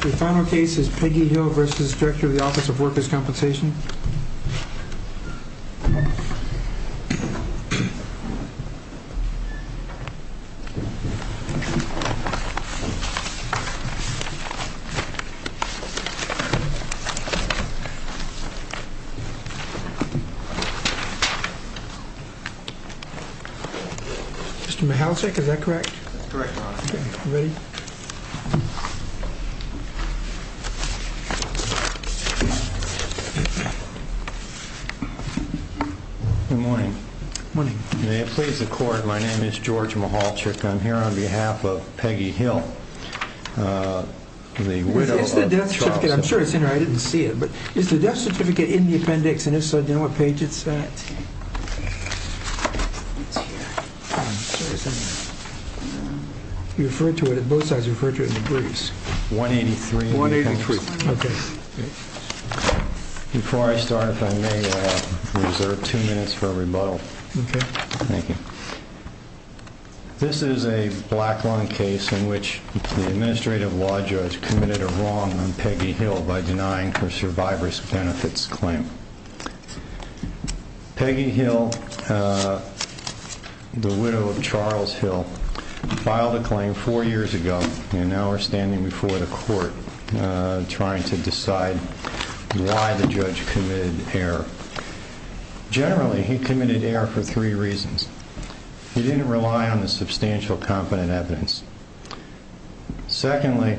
The final case is Peggy Hill v. Director of the Office of Workers' Compensation. Mr. Michalczyk, is that correct? Good morning. May it please the Court, my name is George Michalczyk. I'm here on behalf of Peggy Hill, the widow of Charles. It's the death certificate. I'm sure it's in there. I didn't see it. But is the death You referred to it on both sides. You referred to it in degrees. 183. Before I start, if I may, I'll reserve two minutes for a rebuttal. This is a black line case in which the administrative law judge committed a wrong on Peggy Hill by denying her survivor's benefits claim. Peggy Hill, the widow of Charles Hill, filed a claim four years ago and now are standing before the Court trying to decide why the judge committed error. Generally, he committed error for three reasons. He didn't rely on the substantial competent evidence. Secondly,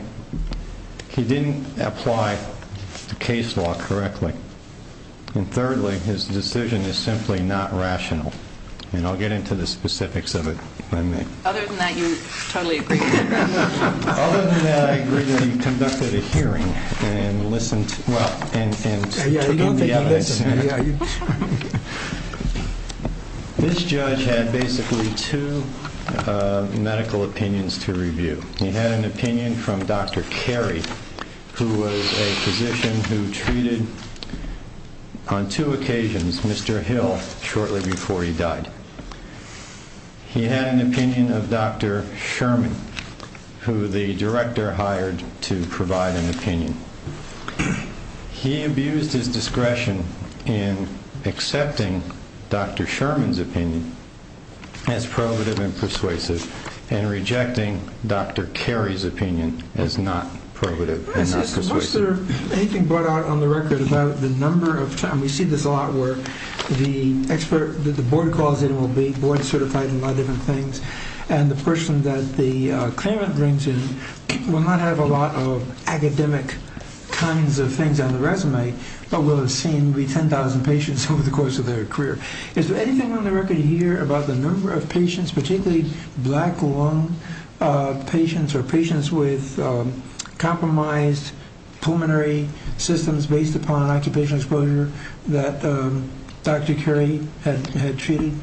he didn't apply the case law correctly. And thirdly, his decision is simply not rational. And I'll get into the specifics of it when I may. Other than that, you totally agree with him. Other than that, I agree that he conducted a hearing and listened to the evidence. This judge had basically two medical opinions to review. He had an opinion from Dr. Carey, who was a physician who treated, on two occasions, Mr. Hill shortly before he died. He had an opinion of Dr. Sherman, who the director hired to provide an opinion. He abused his discretion in accepting Dr. Sherman's opinion as probative and persuasive and rejecting Dr. Carey's opinion as not probative and not persuasive. Is there anything brought out on the record about the number of times? We see this a lot where the expert that the board calls in will be board certified in a lot of different things. And the person that the claimant brings in will not have a lot of academic kinds of things on the resume, but will have seen maybe 10,000 patients over the course of their career. Is there anything on the record here about the number of patients, particularly black lung patients or patients with compromised pulmonary systems based upon an occupational exposure that Dr. Carey had treated?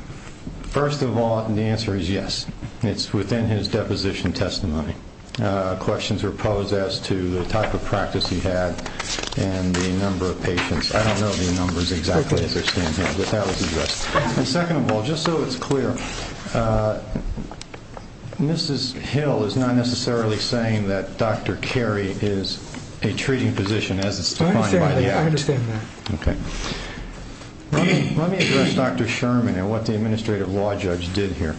First of all, the answer is yes. It's within his deposition testimony. Questions were posed as to the type of practice he had and the number of patients. I don't know the numbers exactly as they're standing here, but that was addressed. And second of all, just so it's clear, Mrs. Hill is not necessarily saying that Dr. Carey is a treating physician as it's defined by the act. I understand that. Let me address Dr. Sherman and what the administrative law judge did here.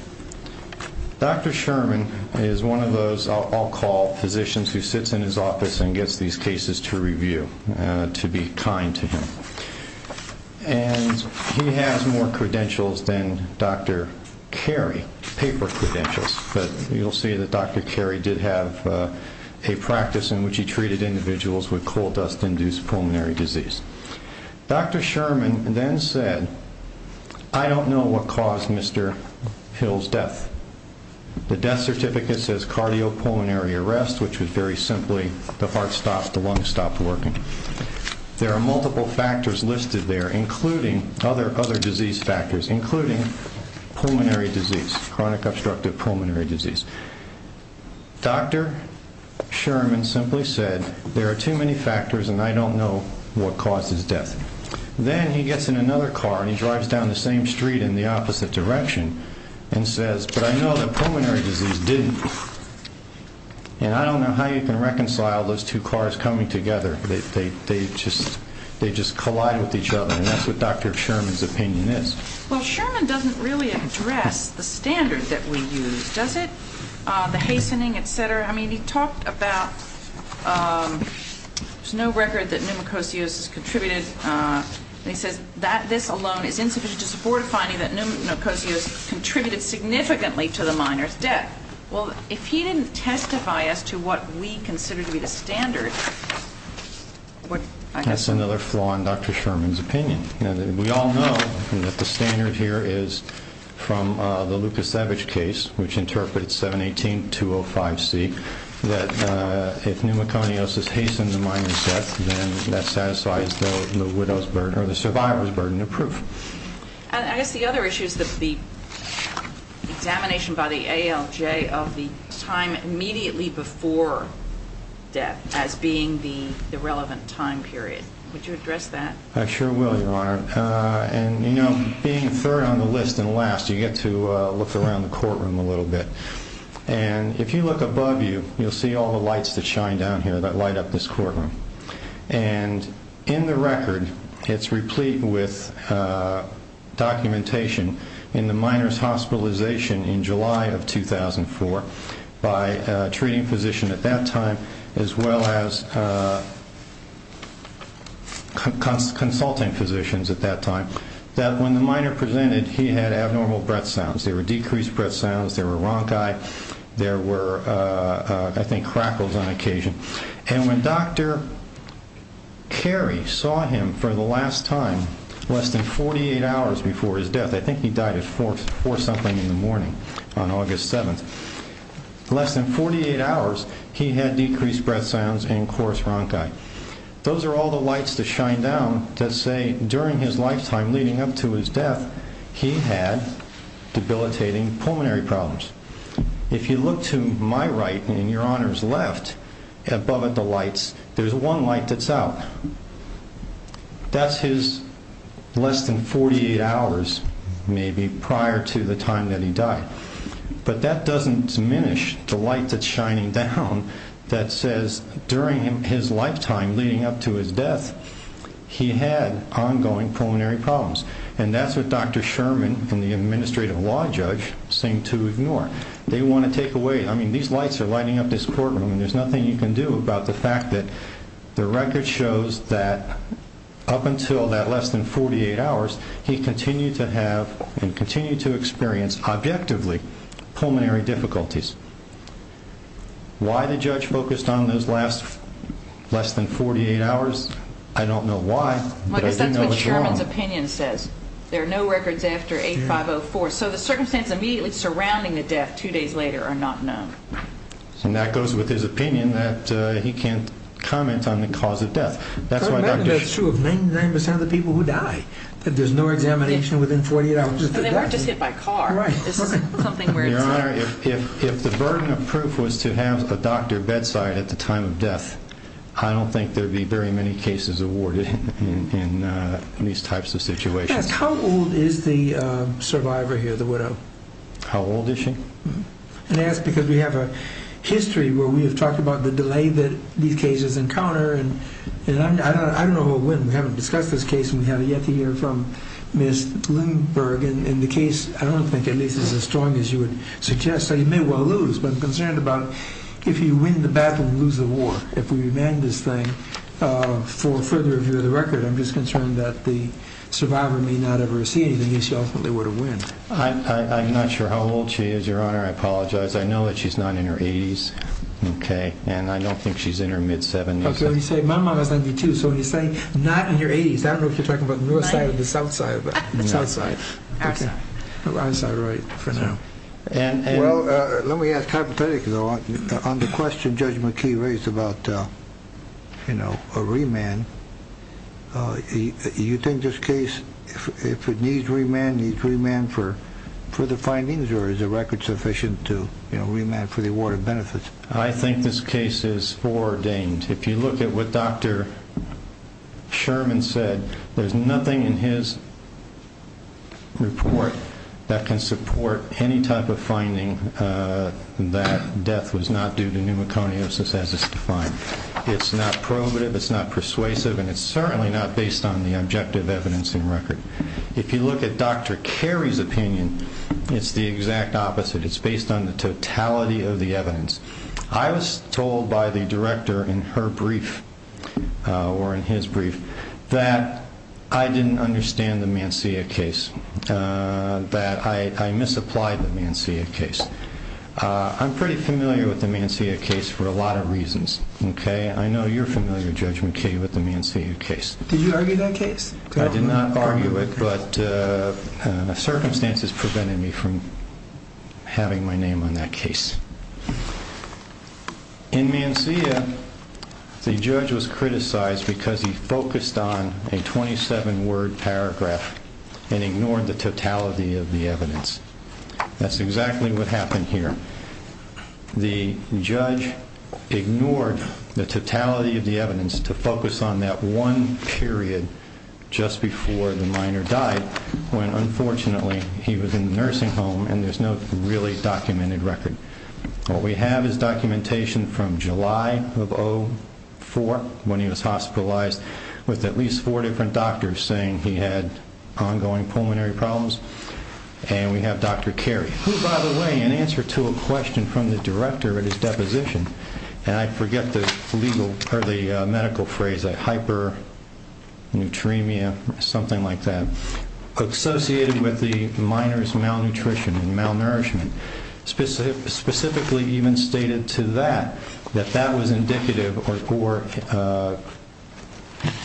Dr. Sherman is one of those I'll call physicians who sits in his office and gets these cases to review, to be kind to him. And he has more credentials than Dr. Carey, paper credentials. But you'll see that Dr. Carey did have a practice in which he treated individuals with coal dust-induced pulmonary disease. Dr. Sherman then said, I don't know what caused Mr. Hill's death. The death certificate says cardiopulmonary arrest, which was very simply the heart stopped, the lungs stopped working. There are multiple factors listed there, including other disease factors, including pulmonary disease, chronic obstructive pulmonary disease. Dr. Sherman simply said, there are too many factors and I don't know what caused his death. Then he gets in another car and he drives down the same street in the opposite direction and says, but I know that pulmonary disease didn't. And I don't know how you can reconcile those two cars coming together. They just collide with each other. And that's what Dr. Sherman's opinion is. Well, Sherman doesn't really address the standard that we use, does it? The hastening, et cetera. I mean, he talked about there's no record that pneumococcius has contributed. He says that this alone is insufficient to support a finding that pneumococcius contributed significantly to the minor's death. Well, if he didn't testify as to what we consider to be the standard, I guess. That's another flaw in Dr. Sherman's opinion. We all know that the standard here is from the Lucas Savage case, which interprets 718-205C, that if pneumococcius hastens a minor's death, then that satisfies the survivor's burden of proof. I guess the other issue is the examination by the ALJ of the time immediately before death as being the relevant time period. Would you address that? I sure will, Your Honor. And, you know, being third on the list and last, you get to look around the courtroom a little bit. And if you look above you, you'll see all the lights that shine down here that light up this courtroom. And in the record, it's replete with documentation in the minor's hospitalization in July of 2004 by a treating physician at that time as well as consulting physicians at that time, that when the minor presented, he had abnormal breath sounds. There were decreased breath sounds. There were ronchi. There were, I think, crackles on occasion. And when Dr. Carey saw him for the last time less than 48 hours before his death, I think he died at 4 something in the morning on August 7th, less than 48 hours, he had decreased breath sounds and coarse ronchi. Those are all the lights that shine down that say during his lifetime leading up to his death, he had debilitating pulmonary problems. If you look to my right and Your Honor's left, above the lights, there's one light that's out. That's his less than 48 hours maybe prior to the time that he died. But that doesn't diminish the light that's shining down that says during his lifetime leading up to his death, he had ongoing pulmonary problems. And that's what Dr. Sherman and the administrative law judge seem to ignore. They want to take away, I mean, these lights are lighting up this courtroom and there's nothing you can do about the fact that the record shows that up until that less than 48 hours, he continued to have and continued to experience objectively pulmonary difficulties. Why the judge focused on those less than 48 hours, I don't know why, but I do know it's wrong. I guess that's what Sherman's opinion says. There are no records after 8504. So the circumstances immediately surrounding the death two days later are not known. And that goes with his opinion that he can't comment on the cause of death. That's why Dr. Sherman That's true of 99% of the people who die. There's no examination within 48 hours of the death. And they weren't just hit by a car. Right. This is something where it's hard. Your Honor, if the burden of proof was to have a doctor bedside at the time of death, I don't think there'd be very many cases awarded in these types of situations. How old is the survivor here, the widow? How old is she? And I ask because we have a history where we have talked about the delay that these cases encounter. And I don't know who will win. We haven't discussed this case, and we haven't yet to hear from Ms. Lindberg. And the case, I don't think, at least is as strong as you would suggest. So you may well lose. But I'm concerned about if you win the battle, you lose the war. If we remain this thing, for further review of the record, I'm just concerned that the survivor may not ever see anything if she ultimately were to win. I'm not sure how old she is, Your Honor. I apologize. I know that she's not in her 80s. Okay. And I don't think she's in her mid-70s. Okay. My mom is 92. So when you say not in your 80s, I don't know if you're talking about the north side or the south side. South side. Okay. I'm sorry. Right. For now. Well, let me ask hypothetically, though. On the question Judge McKee raised about, you know, a remand, you think this case, if it needs remand, needs remand for the findings or is the record sufficient to, you know, remand for the award of benefits? I think this case is foreordained. If you look at what Dr. Sherman said, there's nothing in his report that can support any type of finding that death was not due to pneumoconiosis as it's defined. It's not probative, it's not persuasive, and it's certainly not based on the objective evidencing record. If you look at Dr. Carey's opinion, it's the exact opposite. It's based on the totality of the evidence. I was told by the director in her brief or in his brief that I didn't understand the Mansia case, that I misapplied the Mansia case. I'm pretty familiar with the Mansia case for a lot of reasons, okay? I know you're familiar, Judge McKee, with the Mansia case. Did you argue that case? I did not argue it, but circumstances prevented me from having my name on that case. In Mansia, the judge was criticized because he focused on a 27-word paragraph and ignored the totality of the evidence. That's exactly what happened here. The judge ignored the totality of the evidence to focus on that one period just before the minor died when, unfortunately, he was in the nursing home and there's no really documented record. What we have is documentation from July of 2004 when he was hospitalized with at least four different doctors saying he had ongoing pulmonary problems, and we have Dr. Carey, who, by the way, in answer to a question from the director at his deposition, and I forget the medical phrase, hyperneutremia, something like that, associated with the minor's malnutrition and malnourishment, specifically even stated to that that that was indicative or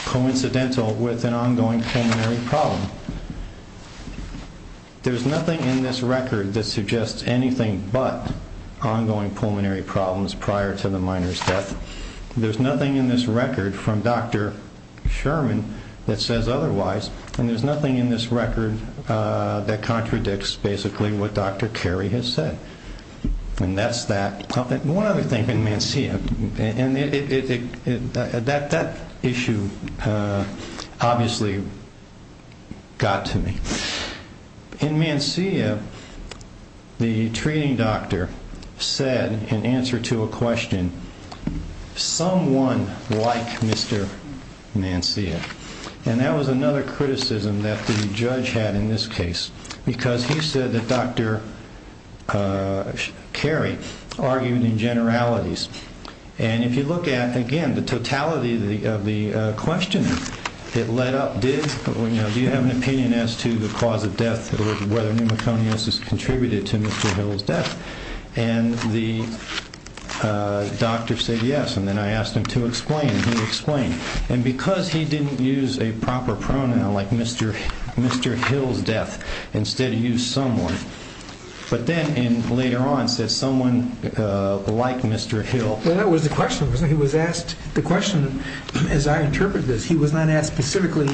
coincidental with an ongoing pulmonary problem. There's nothing in this record that suggests anything but ongoing pulmonary problems prior to the minor's death. There's nothing in this record from Dr. Sherman that says otherwise, and there's nothing in this record that contradicts basically what Dr. Carey has said, and that's that. One other thing in Mancia, and that issue obviously got to me. In Mancia, the treating doctor said in answer to a question, someone like Mr. Mancia, and that was another criticism that the judge had in this case because he said that Dr. Carey argued in generalities, and if you look at, again, the totality of the question that led up did, do you have an opinion as to the cause of death or whether pneumoconius has contributed to Mr. Hill's death, and the doctor said yes, and then I asked him to explain, and he explained, and because he didn't use a proper pronoun like Mr. Hill's death instead he used someone, but then later on said someone like Mr. Hill. Well, that was the question, wasn't it? He was asked the question, as I interpret this, he was not asked specifically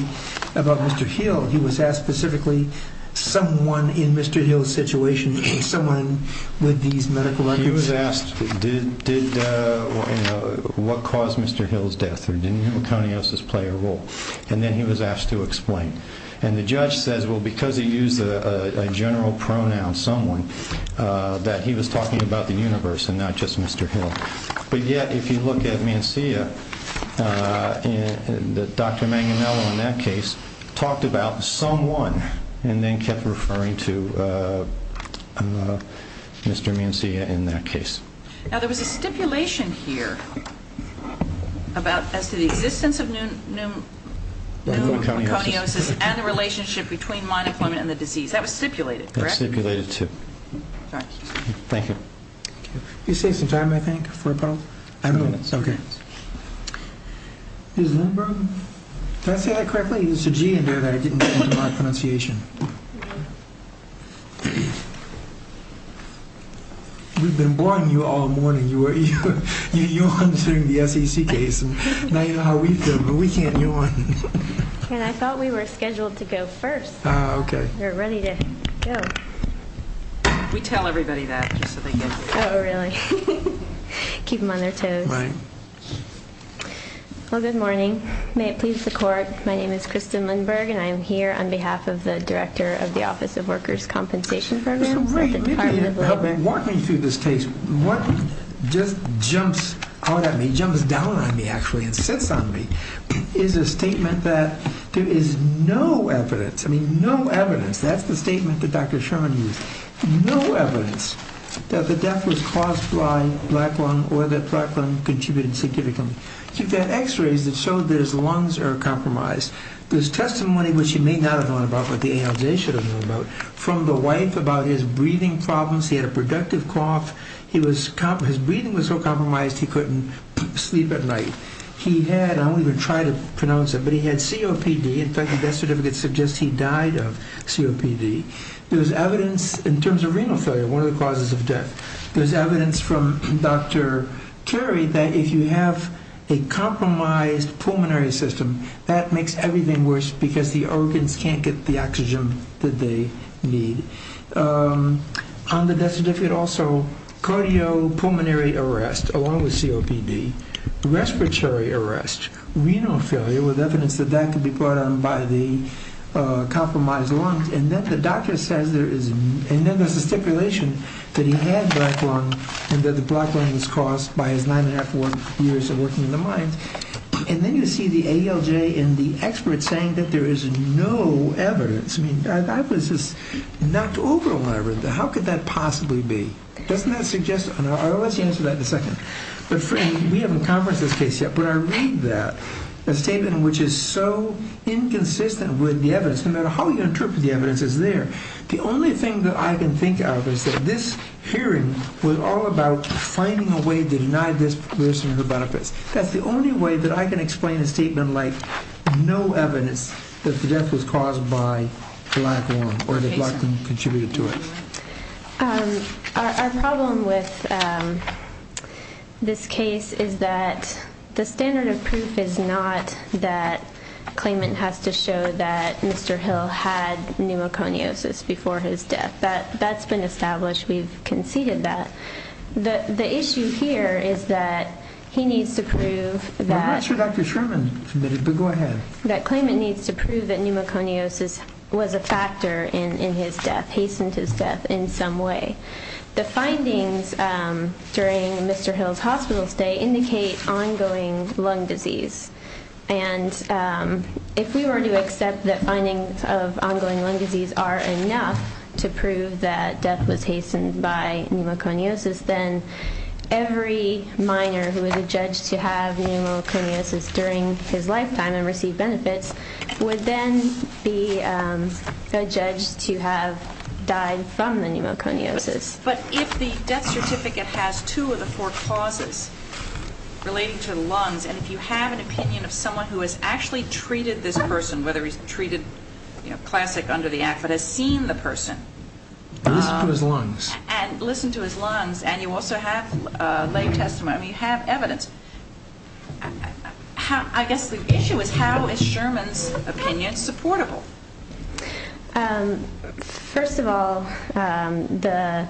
about Mr. Hill. He was asked specifically someone in Mr. Hill's situation, someone with these medical records. He was asked what caused Mr. Hill's death or did pneumoconiosis play a role, and then he was asked to explain, and the judge says, well, because he used a general pronoun, someone, that he was talking about the universe and not just Mr. Hill, but yet if you look at Mancia, Dr. Manganiello in that case talked about someone and then kept referring to Mr. Mancia in that case. Now, there was a stipulation here about as to the existence of pneumoconiosis and the relationship between monoclonal and the disease. That was stipulated, correct? That was stipulated, too. Thank you. Can you save some time, I think, for a couple of minutes? Okay. Ms. Lindberg? Did I say that correctly? It was a G in there that I didn't remember my pronunciation. We've been boring you all morning. You were yawning during the SEC case, and now you know how we feel, but we can't yawn. I thought we were scheduled to go first. Okay. We're ready to go. We tell everybody that just so they get it. Oh, really? Keep them on their toes. Right. Well, good morning. May it please the Court, my name is Kristen Lindberg, and I am here on behalf of the Director of the Office of Workers' Compensation Programs at the Department of Labor. Walking through this case, what just jumps out at me, jumps down on me, actually, and sits on me is a statement that there is no evidence, I mean, no evidence. That's the statement that Dr. Sherman used. No evidence that the death was caused by black lung or that black lung contributed significantly. He had x-rays that showed that his lungs are compromised. There's testimony, which you may not have known about, but the ALJ should have known about, from the wife about his breathing problems. He had a productive cough. His breathing was so compromised he couldn't sleep at night. He had, I won't even try to pronounce it, but he had COPD. In fact, the death certificate suggests he died of COPD. There's evidence in terms of renal failure, one of the causes of death. There's evidence from Dr. Carey that if you have a compromised pulmonary system, that makes everything worse because the organs can't get the oxygen that they need. On the death certificate also, cardiopulmonary arrest, along with COPD, respiratory arrest, renal failure, with evidence that that could be brought on by the compromised lungs, and then the doctor says there is, and then there's a stipulation that he had black lung and that the black lung was caused by his nine and a half, four years of working in the mines. And then you see the ALJ and the experts saying that there is no evidence. I mean, I was just knocked over when I read that. How could that possibly be? Doesn't that suggest, or let's answer that in a second. We haven't conferenced this case yet, but I read that, a statement which is so inconsistent with the evidence. No matter how you interpret the evidence, it's there. The only thing that I can think of is that this hearing was all about finding a way to deny this person her benefits. That's the only way that I can explain a statement like no evidence that the death was caused by black lung or that black lung contributed to it. Our problem with this case is that the standard of proof is not that claimant has to show that Mr. Hill had pneumoconiosis before his death. That's been established. We've conceded that. The issue here is that he needs to prove that... I'm not sure Dr. Sherman submitted, but go ahead. ...that claimant needs to prove that pneumoconiosis was a factor in his death, hastened his death in some way. The findings during Mr. Hill's hospital stay indicate ongoing lung disease. And if we were to accept that findings of ongoing lung disease are enough to prove that death was hastened by pneumoconiosis, then every minor who is adjudged to have pneumoconiosis during his lifetime and receive benefits would then be adjudged to have died from the pneumoconiosis. But if the death certificate has two of the four causes relating to the lungs, and if you have an opinion of someone who has actually treated this person, whether he's treated, you know, classic under the act, but has seen the person... Listened to his lungs. ...and listened to his lungs, and you also have lay testimony, you have evidence. I guess the issue is how is Sherman's opinion supportable? First of all, the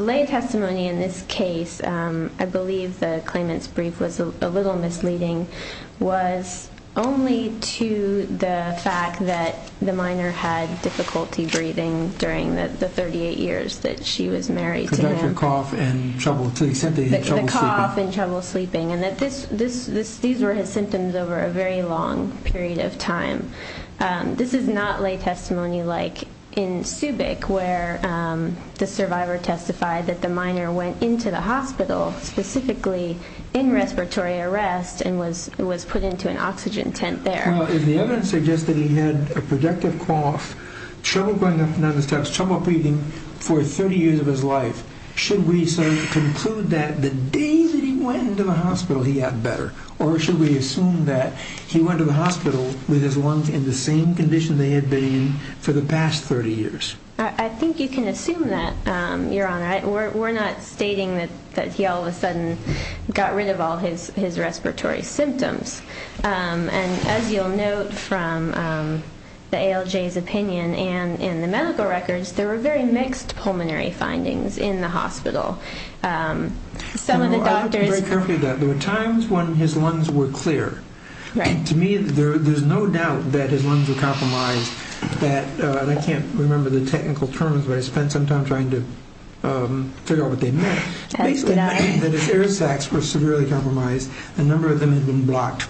lay testimony in this case, I believe the claimant's brief was a little misleading, was only to the fact that the minor had difficulty breathing during the 38 years that she was married to him. The cough and trouble sleeping. The cough and trouble sleeping, and that these were his symptoms over a very long period of time. This is not lay testimony like in Subic, where the survivor testified that the minor went into the hospital, specifically in respiratory arrest, and was put into an oxygen tent there. Well, if the evidence suggests that he had a productive cough, trouble going up and down the steps, trouble breathing for 30 years of his life, should we conclude that the day that he went into the hospital he got better? Or should we assume that he went to the hospital with his lungs in the same condition they had been in for the past 30 years? I think you can assume that, Your Honor. We're not stating that he all of a sudden got rid of all his respiratory symptoms. And as you'll note from the ALJ's opinion and in the medical records, there were very mixed pulmonary findings in the hospital. Some of the doctors- I'll be very careful with that. There were times when his lungs were clear. To me, there's no doubt that his lungs were compromised. I can't remember the technical terms, but I spent some time trying to figure out what they meant. Basically, that his air sacs were severely compromised. A number of them had been blocked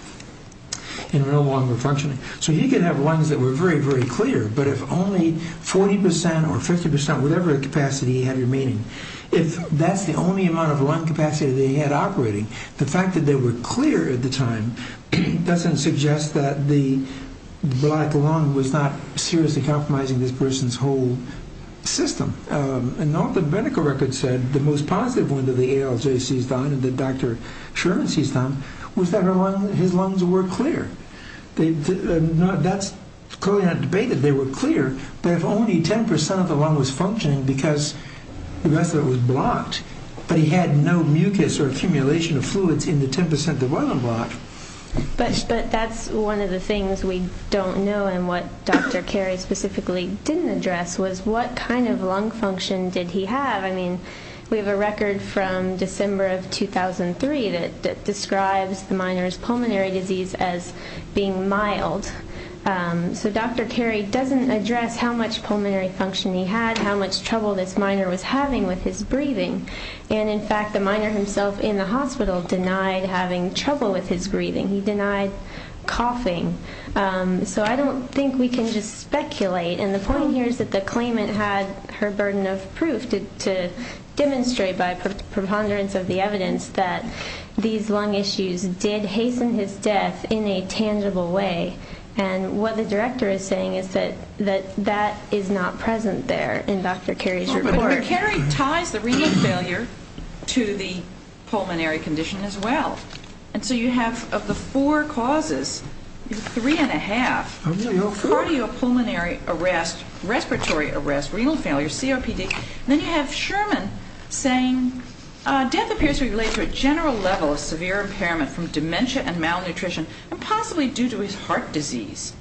and were no longer functioning. So he could have lungs that were very, very clear, but if only 40 percent or 50 percent, whatever capacity he had remaining, if that's the only amount of lung capacity that he had operating, the fact that they were clear at the time doesn't suggest that the black lung was not seriously compromising this person's whole system. And all the medical records said, the most positive one that the ALJ seized on and that Dr. Sherman seized on was that his lungs were clear. That's clearly not debated. They were clear, but if only 10 percent of the lung was functioning because the rest of it was blocked, but he had no mucus or accumulation of fluids in the 10 percent that wasn't blocked. But that's one of the things we don't know, and what Dr. Carey specifically didn't address was what kind of lung function did he have. I mean, we have a record from December of 2003 that describes the minor's pulmonary disease as being mild. So Dr. Carey doesn't address how much pulmonary function he had, how much trouble this minor was having with his breathing, and in fact the minor himself in the hospital denied having trouble with his breathing. He denied coughing. So I don't think we can just speculate, and the point here is that the claimant had her burden of proof to demonstrate by preponderance of the evidence that these lung issues did hasten his death in a tangible way, and what the director is saying is that that is not present there in Dr. Carey's report. But Carey ties the renal failure to the pulmonary condition as well, and so you have of the four causes, three and a half, cardiopulmonary arrest, respiratory arrest, renal failure, COPD, and then you have Sherman saying death appears to be related to a general level of severe impairment from dementia and malnutrition and possibly due to his heart disease.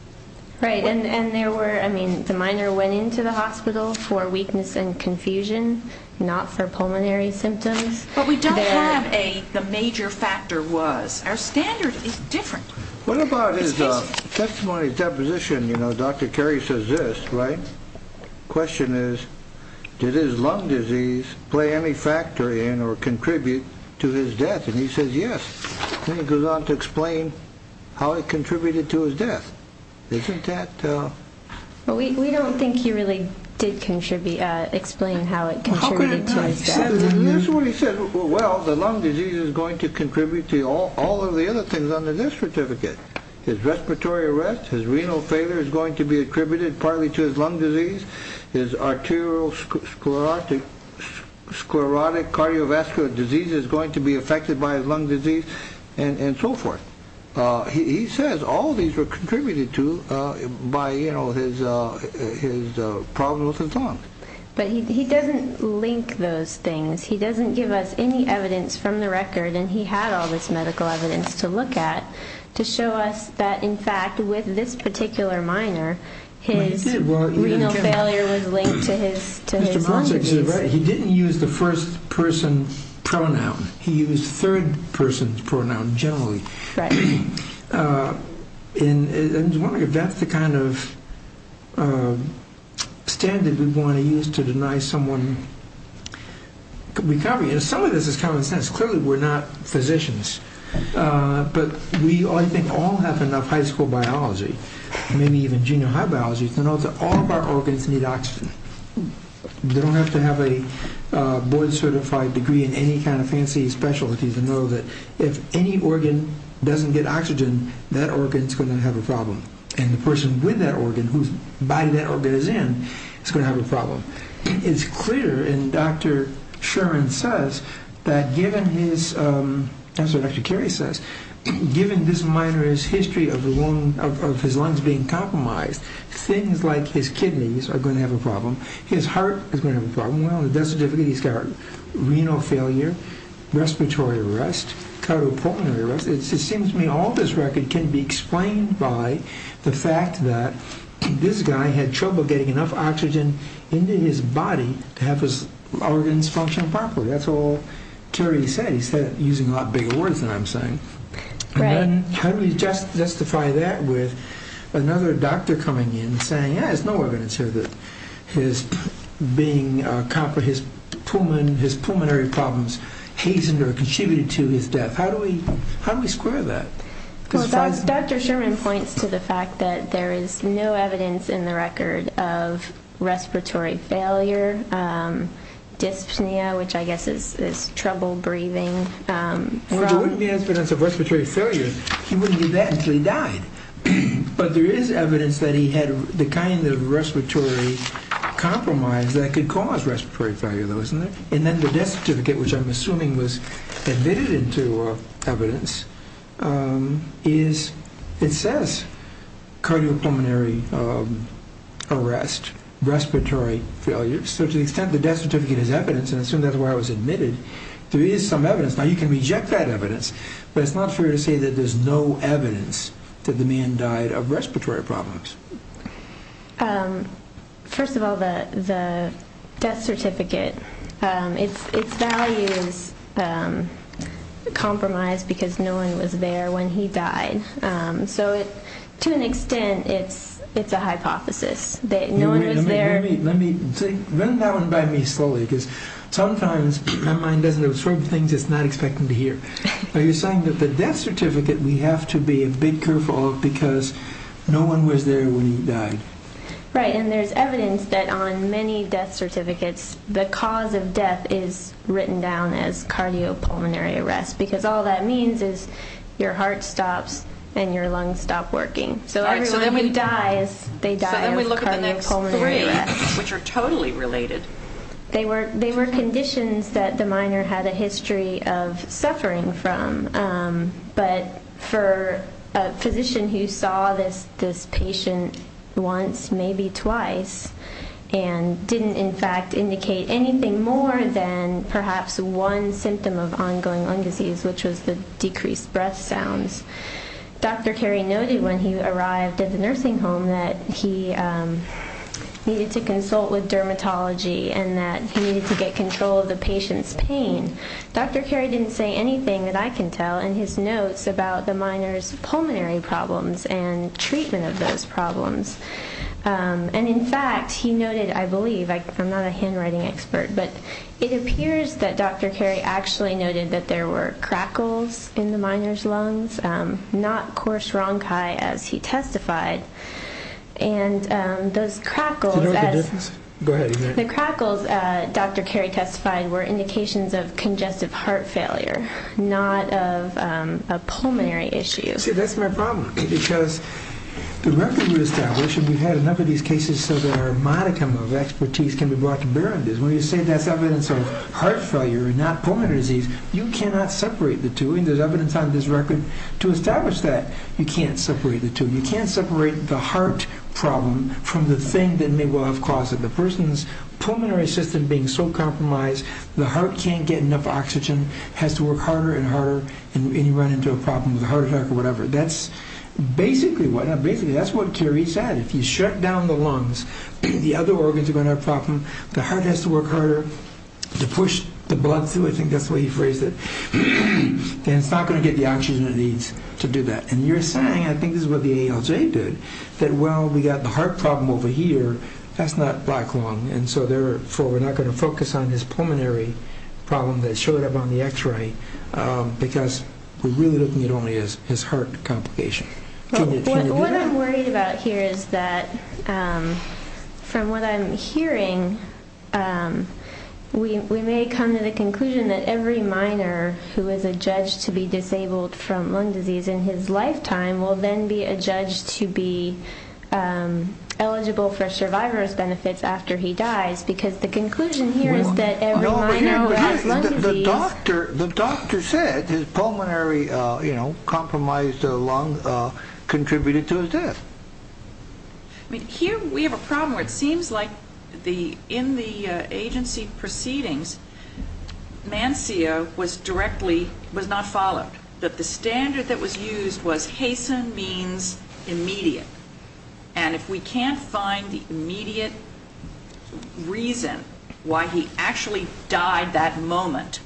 Right, and there were, I mean, the minor went into the hospital for weakness and confusion, not for pulmonary symptoms. But we don't have a the major factor was. Our standard is different. What about his testimony deposition? You know, Dr. Carey says this, right? The question is, did his lung disease play any factor in or contribute to his death? And he says yes. Then he goes on to explain how it contributed to his death. Isn't that? Well, we don't think he really did contribute, explain how it contributed to his death. That's what he said. Well, the lung disease is going to contribute to all of the other things on the death certificate. His respiratory arrest, his renal failure is going to be attributed partly to his lung disease. His arterial sclerotic cardiovascular disease is going to be affected by his lung disease and so forth. He says all of these were contributed to by, you know, his problems with his lungs. But he doesn't link those things. He doesn't give us any evidence from the record, and he had all this medical evidence to look at to show us that, in fact, with this particular minor, his renal failure was linked to his lung disease. He didn't use the first-person pronoun. He used third-person pronouns generally. Right. And that's the kind of standard we want to use to deny someone recovery. And some of this is common sense. Clearly, we're not physicians. But we, I think, all have enough high school biology, maybe even junior high biology, to know that all of our organs need oxygen. You don't have to have a board-certified degree in any kind of fancy specialties to know that if any organ doesn't get oxygen, that organ is going to have a problem, and the person with that organ, whose body that organ is in, is going to have a problem. It's clear, and Dr. Shuren says, that given his, that's what Dr. Carey says, given this minor's history of his lungs being compromised, things like his kidneys are going to have a problem. His heart is going to have a problem. Well, it doesn't differ. He's got renal failure, respiratory arrest, cardiopulmonary arrest. It seems to me all this record can be explained by the fact that this guy had trouble getting enough oxygen into his body to have his organs function properly. That's all Carey said. He said it using a lot bigger words than I'm saying. Right. How do we justify that with another doctor coming in and saying, yeah, there's no evidence here that his being, his pulmonary problems hastened or contributed to his death? How do we square that? Dr. Shuren points to the fact that there is no evidence in the record of respiratory failure, dyspnea, which I guess is trouble breathing. There wouldn't be evidence of respiratory failure. He wouldn't do that until he died. But there is evidence that he had the kind of respiratory compromise that could cause respiratory failure, though, isn't there? And then the death certificate, which I'm assuming was admitted into evidence, it says cardiopulmonary arrest, respiratory failure. So to the extent the death certificate is evidence, and I assume that's the way I was admitted, there is some evidence. Now, you can reject that evidence, but it's not fair to say that there's no evidence that the man died of respiratory problems. First of all, the death certificate, its value is compromised because no one was there when he died. So to an extent, it's a hypothesis that no one was there. Wait a minute. Let me think. Run that one by me slowly because sometimes my mind doesn't absorb things it's not expecting to hear. Are you saying that the death certificate we have to be a bit careful of because no one was there when he died? Right, and there's evidence that on many death certificates, the cause of death is written down as cardiopulmonary arrest because all that means is your heart stops and your lungs stop working. So everyone who dies, they die of cardiopulmonary arrest. So then we look at the next three, which are totally related. They were conditions that the minor had a history of suffering from. But for a physician who saw this patient once, maybe twice, and didn't in fact indicate anything more than perhaps one symptom of ongoing lung disease, which was the decreased breath sounds, Dr. Carey noted when he arrived at the nursing home that he needed to consult with dermatology and that he needed to get control of the patient's pain. Dr. Carey didn't say anything that I can tell in his notes about the minor's pulmonary problems and treatment of those problems. And in fact, he noted, I believe, I'm not a handwriting expert, but it appears that Dr. Carey actually noted that there were crackles in the minor's lungs, not coarse ronchi as he testified. And those crackles, as Dr. Carey testified, were indications of congestive heart failure, not of a pulmonary issue. See, that's my problem, because the record we established, and we've had enough of these cases so that our modicum of expertise can be brought to bear on this. When you say that's evidence of heart failure and not pulmonary disease, you cannot separate the two, and there's evidence on this record to establish that. You can't separate the two. You can't separate the heart problem from the thing that may well have caused it. The person's pulmonary system being so compromised, the heart can't get enough oxygen, has to work harder and harder, and you run into a problem with a heart attack or whatever. That's basically what Carey said. If you shut down the lungs, the other organs are going to have a problem, the heart has to work harder to push the blood through, I think that's the way he phrased it, then it's not going to get the oxygen it needs to do that. And you're saying, I think this is what the ALJ did, that, well, we've got the heart problem over here, that's not black lung, and so therefore we're not going to focus on his pulmonary problem that showed up on the X-ray because we're really looking at only his heart complication. What I'm worried about here is that, from what I'm hearing, we may come to the conclusion that every minor who is a judge to be disabled from lung disease in his lifetime will then be a judge to be eligible for survivor's benefits after he dies because the conclusion here is that every minor who has lung disease... The doctor said his pulmonary, you know, compromised lung contributed to his death. Here we have a problem where it seems like in the agency proceedings, Mansia was not followed, that the standard that was used was hasten means immediate, and if we can't find the immediate reason why he actually died that moment,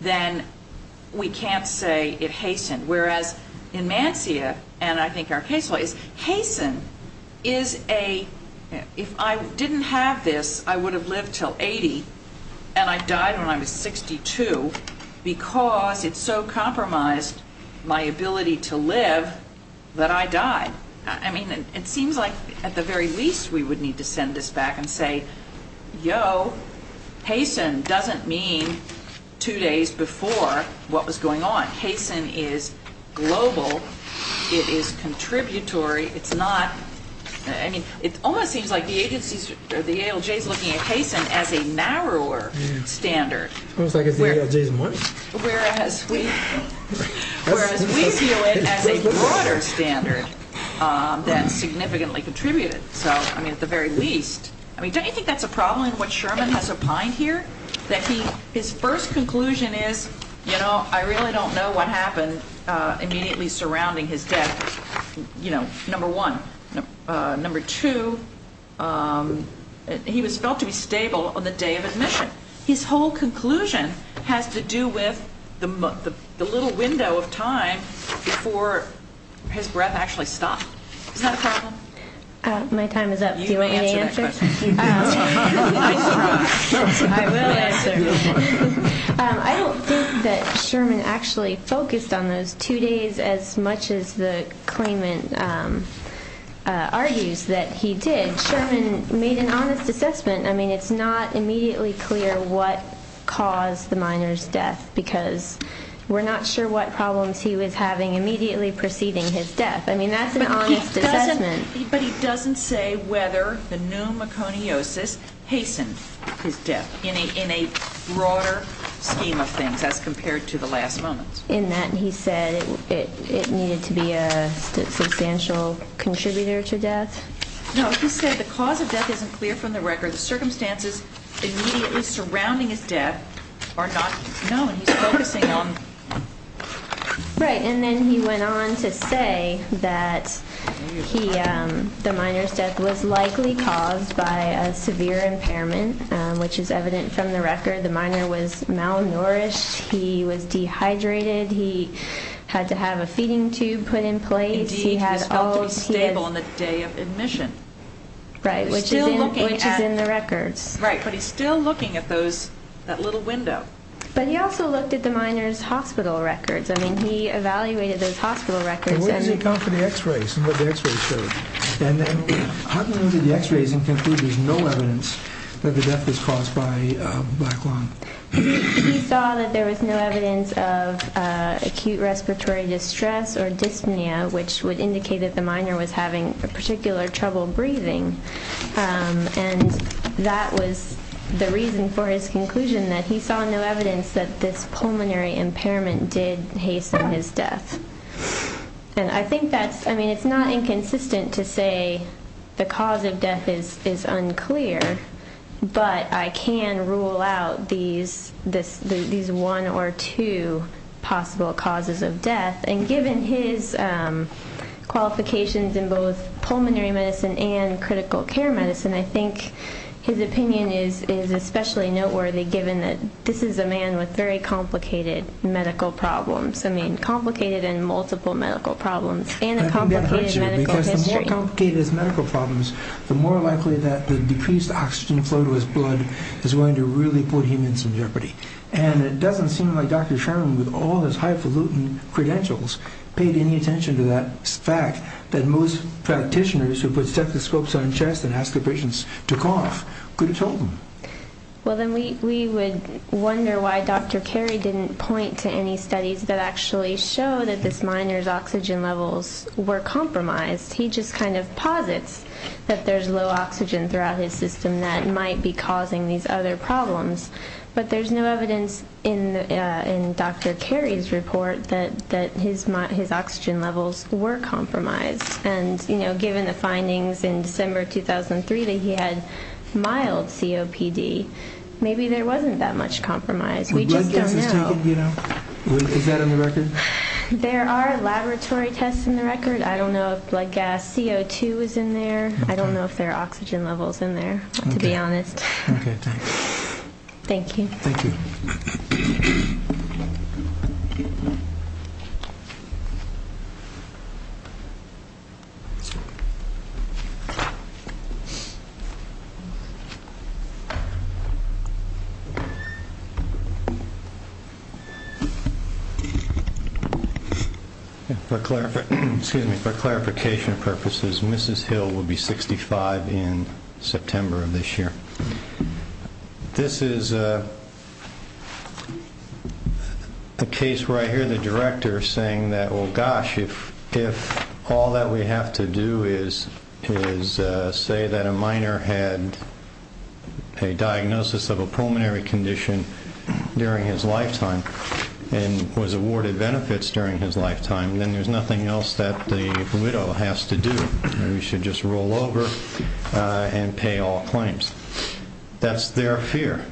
then we can't say it hastened, whereas in Mansia, and I think our case law is, hasten is a... If I didn't have this, I would have lived till 80, and I died when I was 62 because it so compromised my ability to live that I died. I mean, it seems like, at the very least, we would need to send this back and say, yo, hasten doesn't mean two days before what was going on. Hasten is global, it is contributory, it's not... I mean, it almost seems like the agency, the ALJ is looking at hasten as a narrower standard. It's almost like it's the ALJ's money. Whereas we view it as a broader standard that significantly contributed. So, I mean, at the very least... I mean, don't you think that's a problem in what Sherman has opined here? That his first conclusion is, you know, I really don't know what happened immediately surrounding his death, you know, number one. Number two, he was felt to be stable on the day of admission. His whole conclusion has to do with the little window of time before his breath actually stopped. Is that a problem? My time is up. Do you want me to answer? I will answer. I don't think that Sherman actually focused on those two days as much as the claimant argues that he did. Sherman made an honest assessment. I mean, it's not immediately clear what caused the minor's death because we're not sure what problems he was having immediately preceding his death. I mean, that's an honest assessment. But he doesn't say whether the pneumoconiosis hastened his death in a broader scheme of things as compared to the last moments. In that he said it needed to be a substantial contributor to death? No, he said the cause of death isn't clear from the record. The circumstances immediately surrounding his death are not known. He's focusing on... Right, and then he went on to say that the minor's death was likely caused by a severe impairment, which is evident from the record. The minor was malnourished. He was dehydrated. He had to have a feeding tube put in place. Indeed, he was felt to be stable on the day of admission. Right, which is in the records. Right, but he's still looking at that little window. But he also looked at the minor's hospital records. I mean, he evaluated those hospital records. And where does he come from the x-rays and what the x-rays showed? And then how come he looked at the x-rays and concluded there's no evidence that the death was caused by black lung? He saw that there was no evidence of acute respiratory distress or dyspnea, which would indicate that the minor was having particular trouble breathing. And that was the reason for his conclusion, that he saw no evidence that this pulmonary impairment did hasten his death. And I think that's, I mean, it's not inconsistent to say the cause of death is unclear, but I can rule out these one or two possible causes of death. And given his qualifications in both pulmonary medicine and critical care medicine, I think his opinion is especially noteworthy, given that this is a man with very complicated medical problems. I mean, complicated in multiple medical problems and a complicated medical history. I think that hurts you, because the more complicated his medical problems, the more likely that the decreased oxygen flow to his blood is going to really put him in some jeopardy. And it doesn't seem like Dr. Sherman, with all his highfalutin credentials, paid any attention to that fact that most practitioners who put stethoscopes on chest and ask their patients to cough could have told them. Well, then we would wonder why Dr. Carey didn't point to any studies that actually show that this minor's oxygen levels were compromised. He just kind of posits that there's low oxygen throughout his system that might be causing these other problems. But there's no evidence in Dr. Carey's report that his oxygen levels were compromised. And given the findings in December 2003 that he had mild COPD, maybe there wasn't that much compromise. We just don't know. Is that on the record? There are laboratory tests on the record. I don't know if blood gas CO2 is in there. I don't know if there are oxygen levels in there, to be honest. Okay, thanks. Thank you. Thank you. Thank you. For clarification purposes, Mrs. Hill will be 65 in September of this year. This is a case where I hear the director saying that, well, gosh, if all that we have to do is say that a minor had a diagnosis of a pulmonary condition during his lifetime and was awarded benefits during his lifetime, then there's nothing else that the widow has to do. Maybe she should just roll over and pay all claims. That's their fear.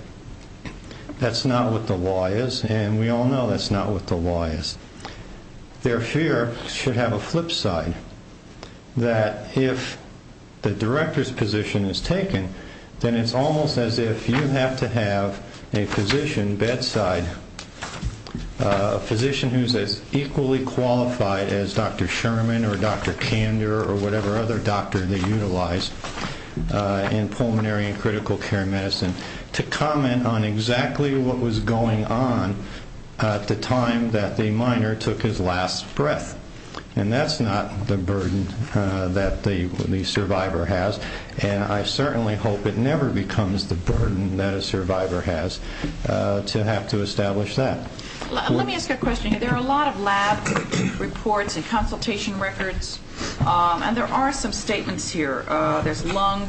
That's not what the law is, and we all know that's not what the law is. Their fear should have a flip side, that if the director's position is taken, then it's almost as if you have to have a physician bedside, a physician who's as equally qualified as Dr. Sherman or Dr. Kander or whatever other doctor they utilize in pulmonary and critical care medicine to comment on exactly what was going on at the time that the minor took his last breath. And that's not the burden that the survivor has, and I certainly hope it never becomes the burden that a survivor has to have to establish that. Let me ask a question. There are a lot of lab reports and consultation records, and there are some statements here. There's lung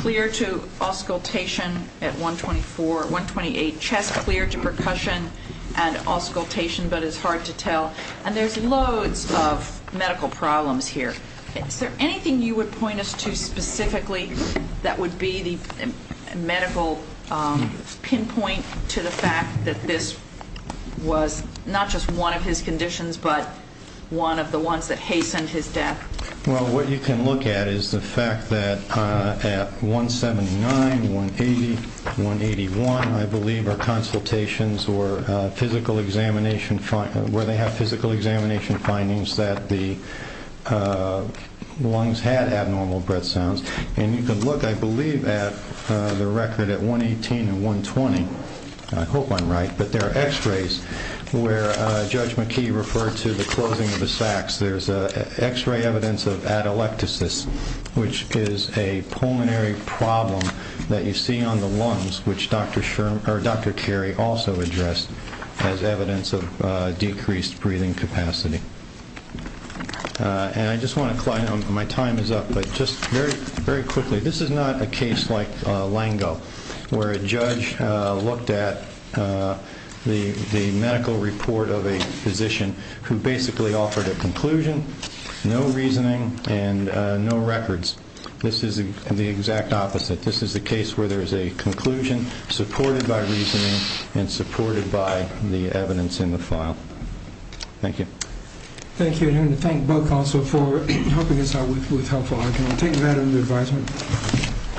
clear to auscultation at 124, 128, chest clear to percussion and auscultation, but it's hard to tell, and there's loads of medical problems here. Is there anything you would point us to specifically that would be the medical pinpoint to the fact that this was not just one of his conditions but one of the ones that hastened his death? Well, what you can look at is the fact that at 179, 180, 181, I believe, are consultations where they have physical examination findings that the lungs had abnormal breath sounds. And you can look, I believe, at the record at 118 and 120, and I hope I'm right, but there are x-rays where Judge McKee referred to the closing of the sacs. There's x-ray evidence of atelectasis, which is a pulmonary problem that you see on the lungs, which Dr. Carey also addressed as evidence of decreased breathing capacity. And I just want to clarify, my time is up, but just very quickly, this is not a case like Lango where a judge looked at the medical report of a physician who basically offered a conclusion, no reasoning, and no records. This is the exact opposite. This is the case where there is a conclusion supported by reasoning and supported by the evidence in the file. Thank you. Thank you. And I want to thank both counsel for helping us out with helpful argument. I'll take that under advisement.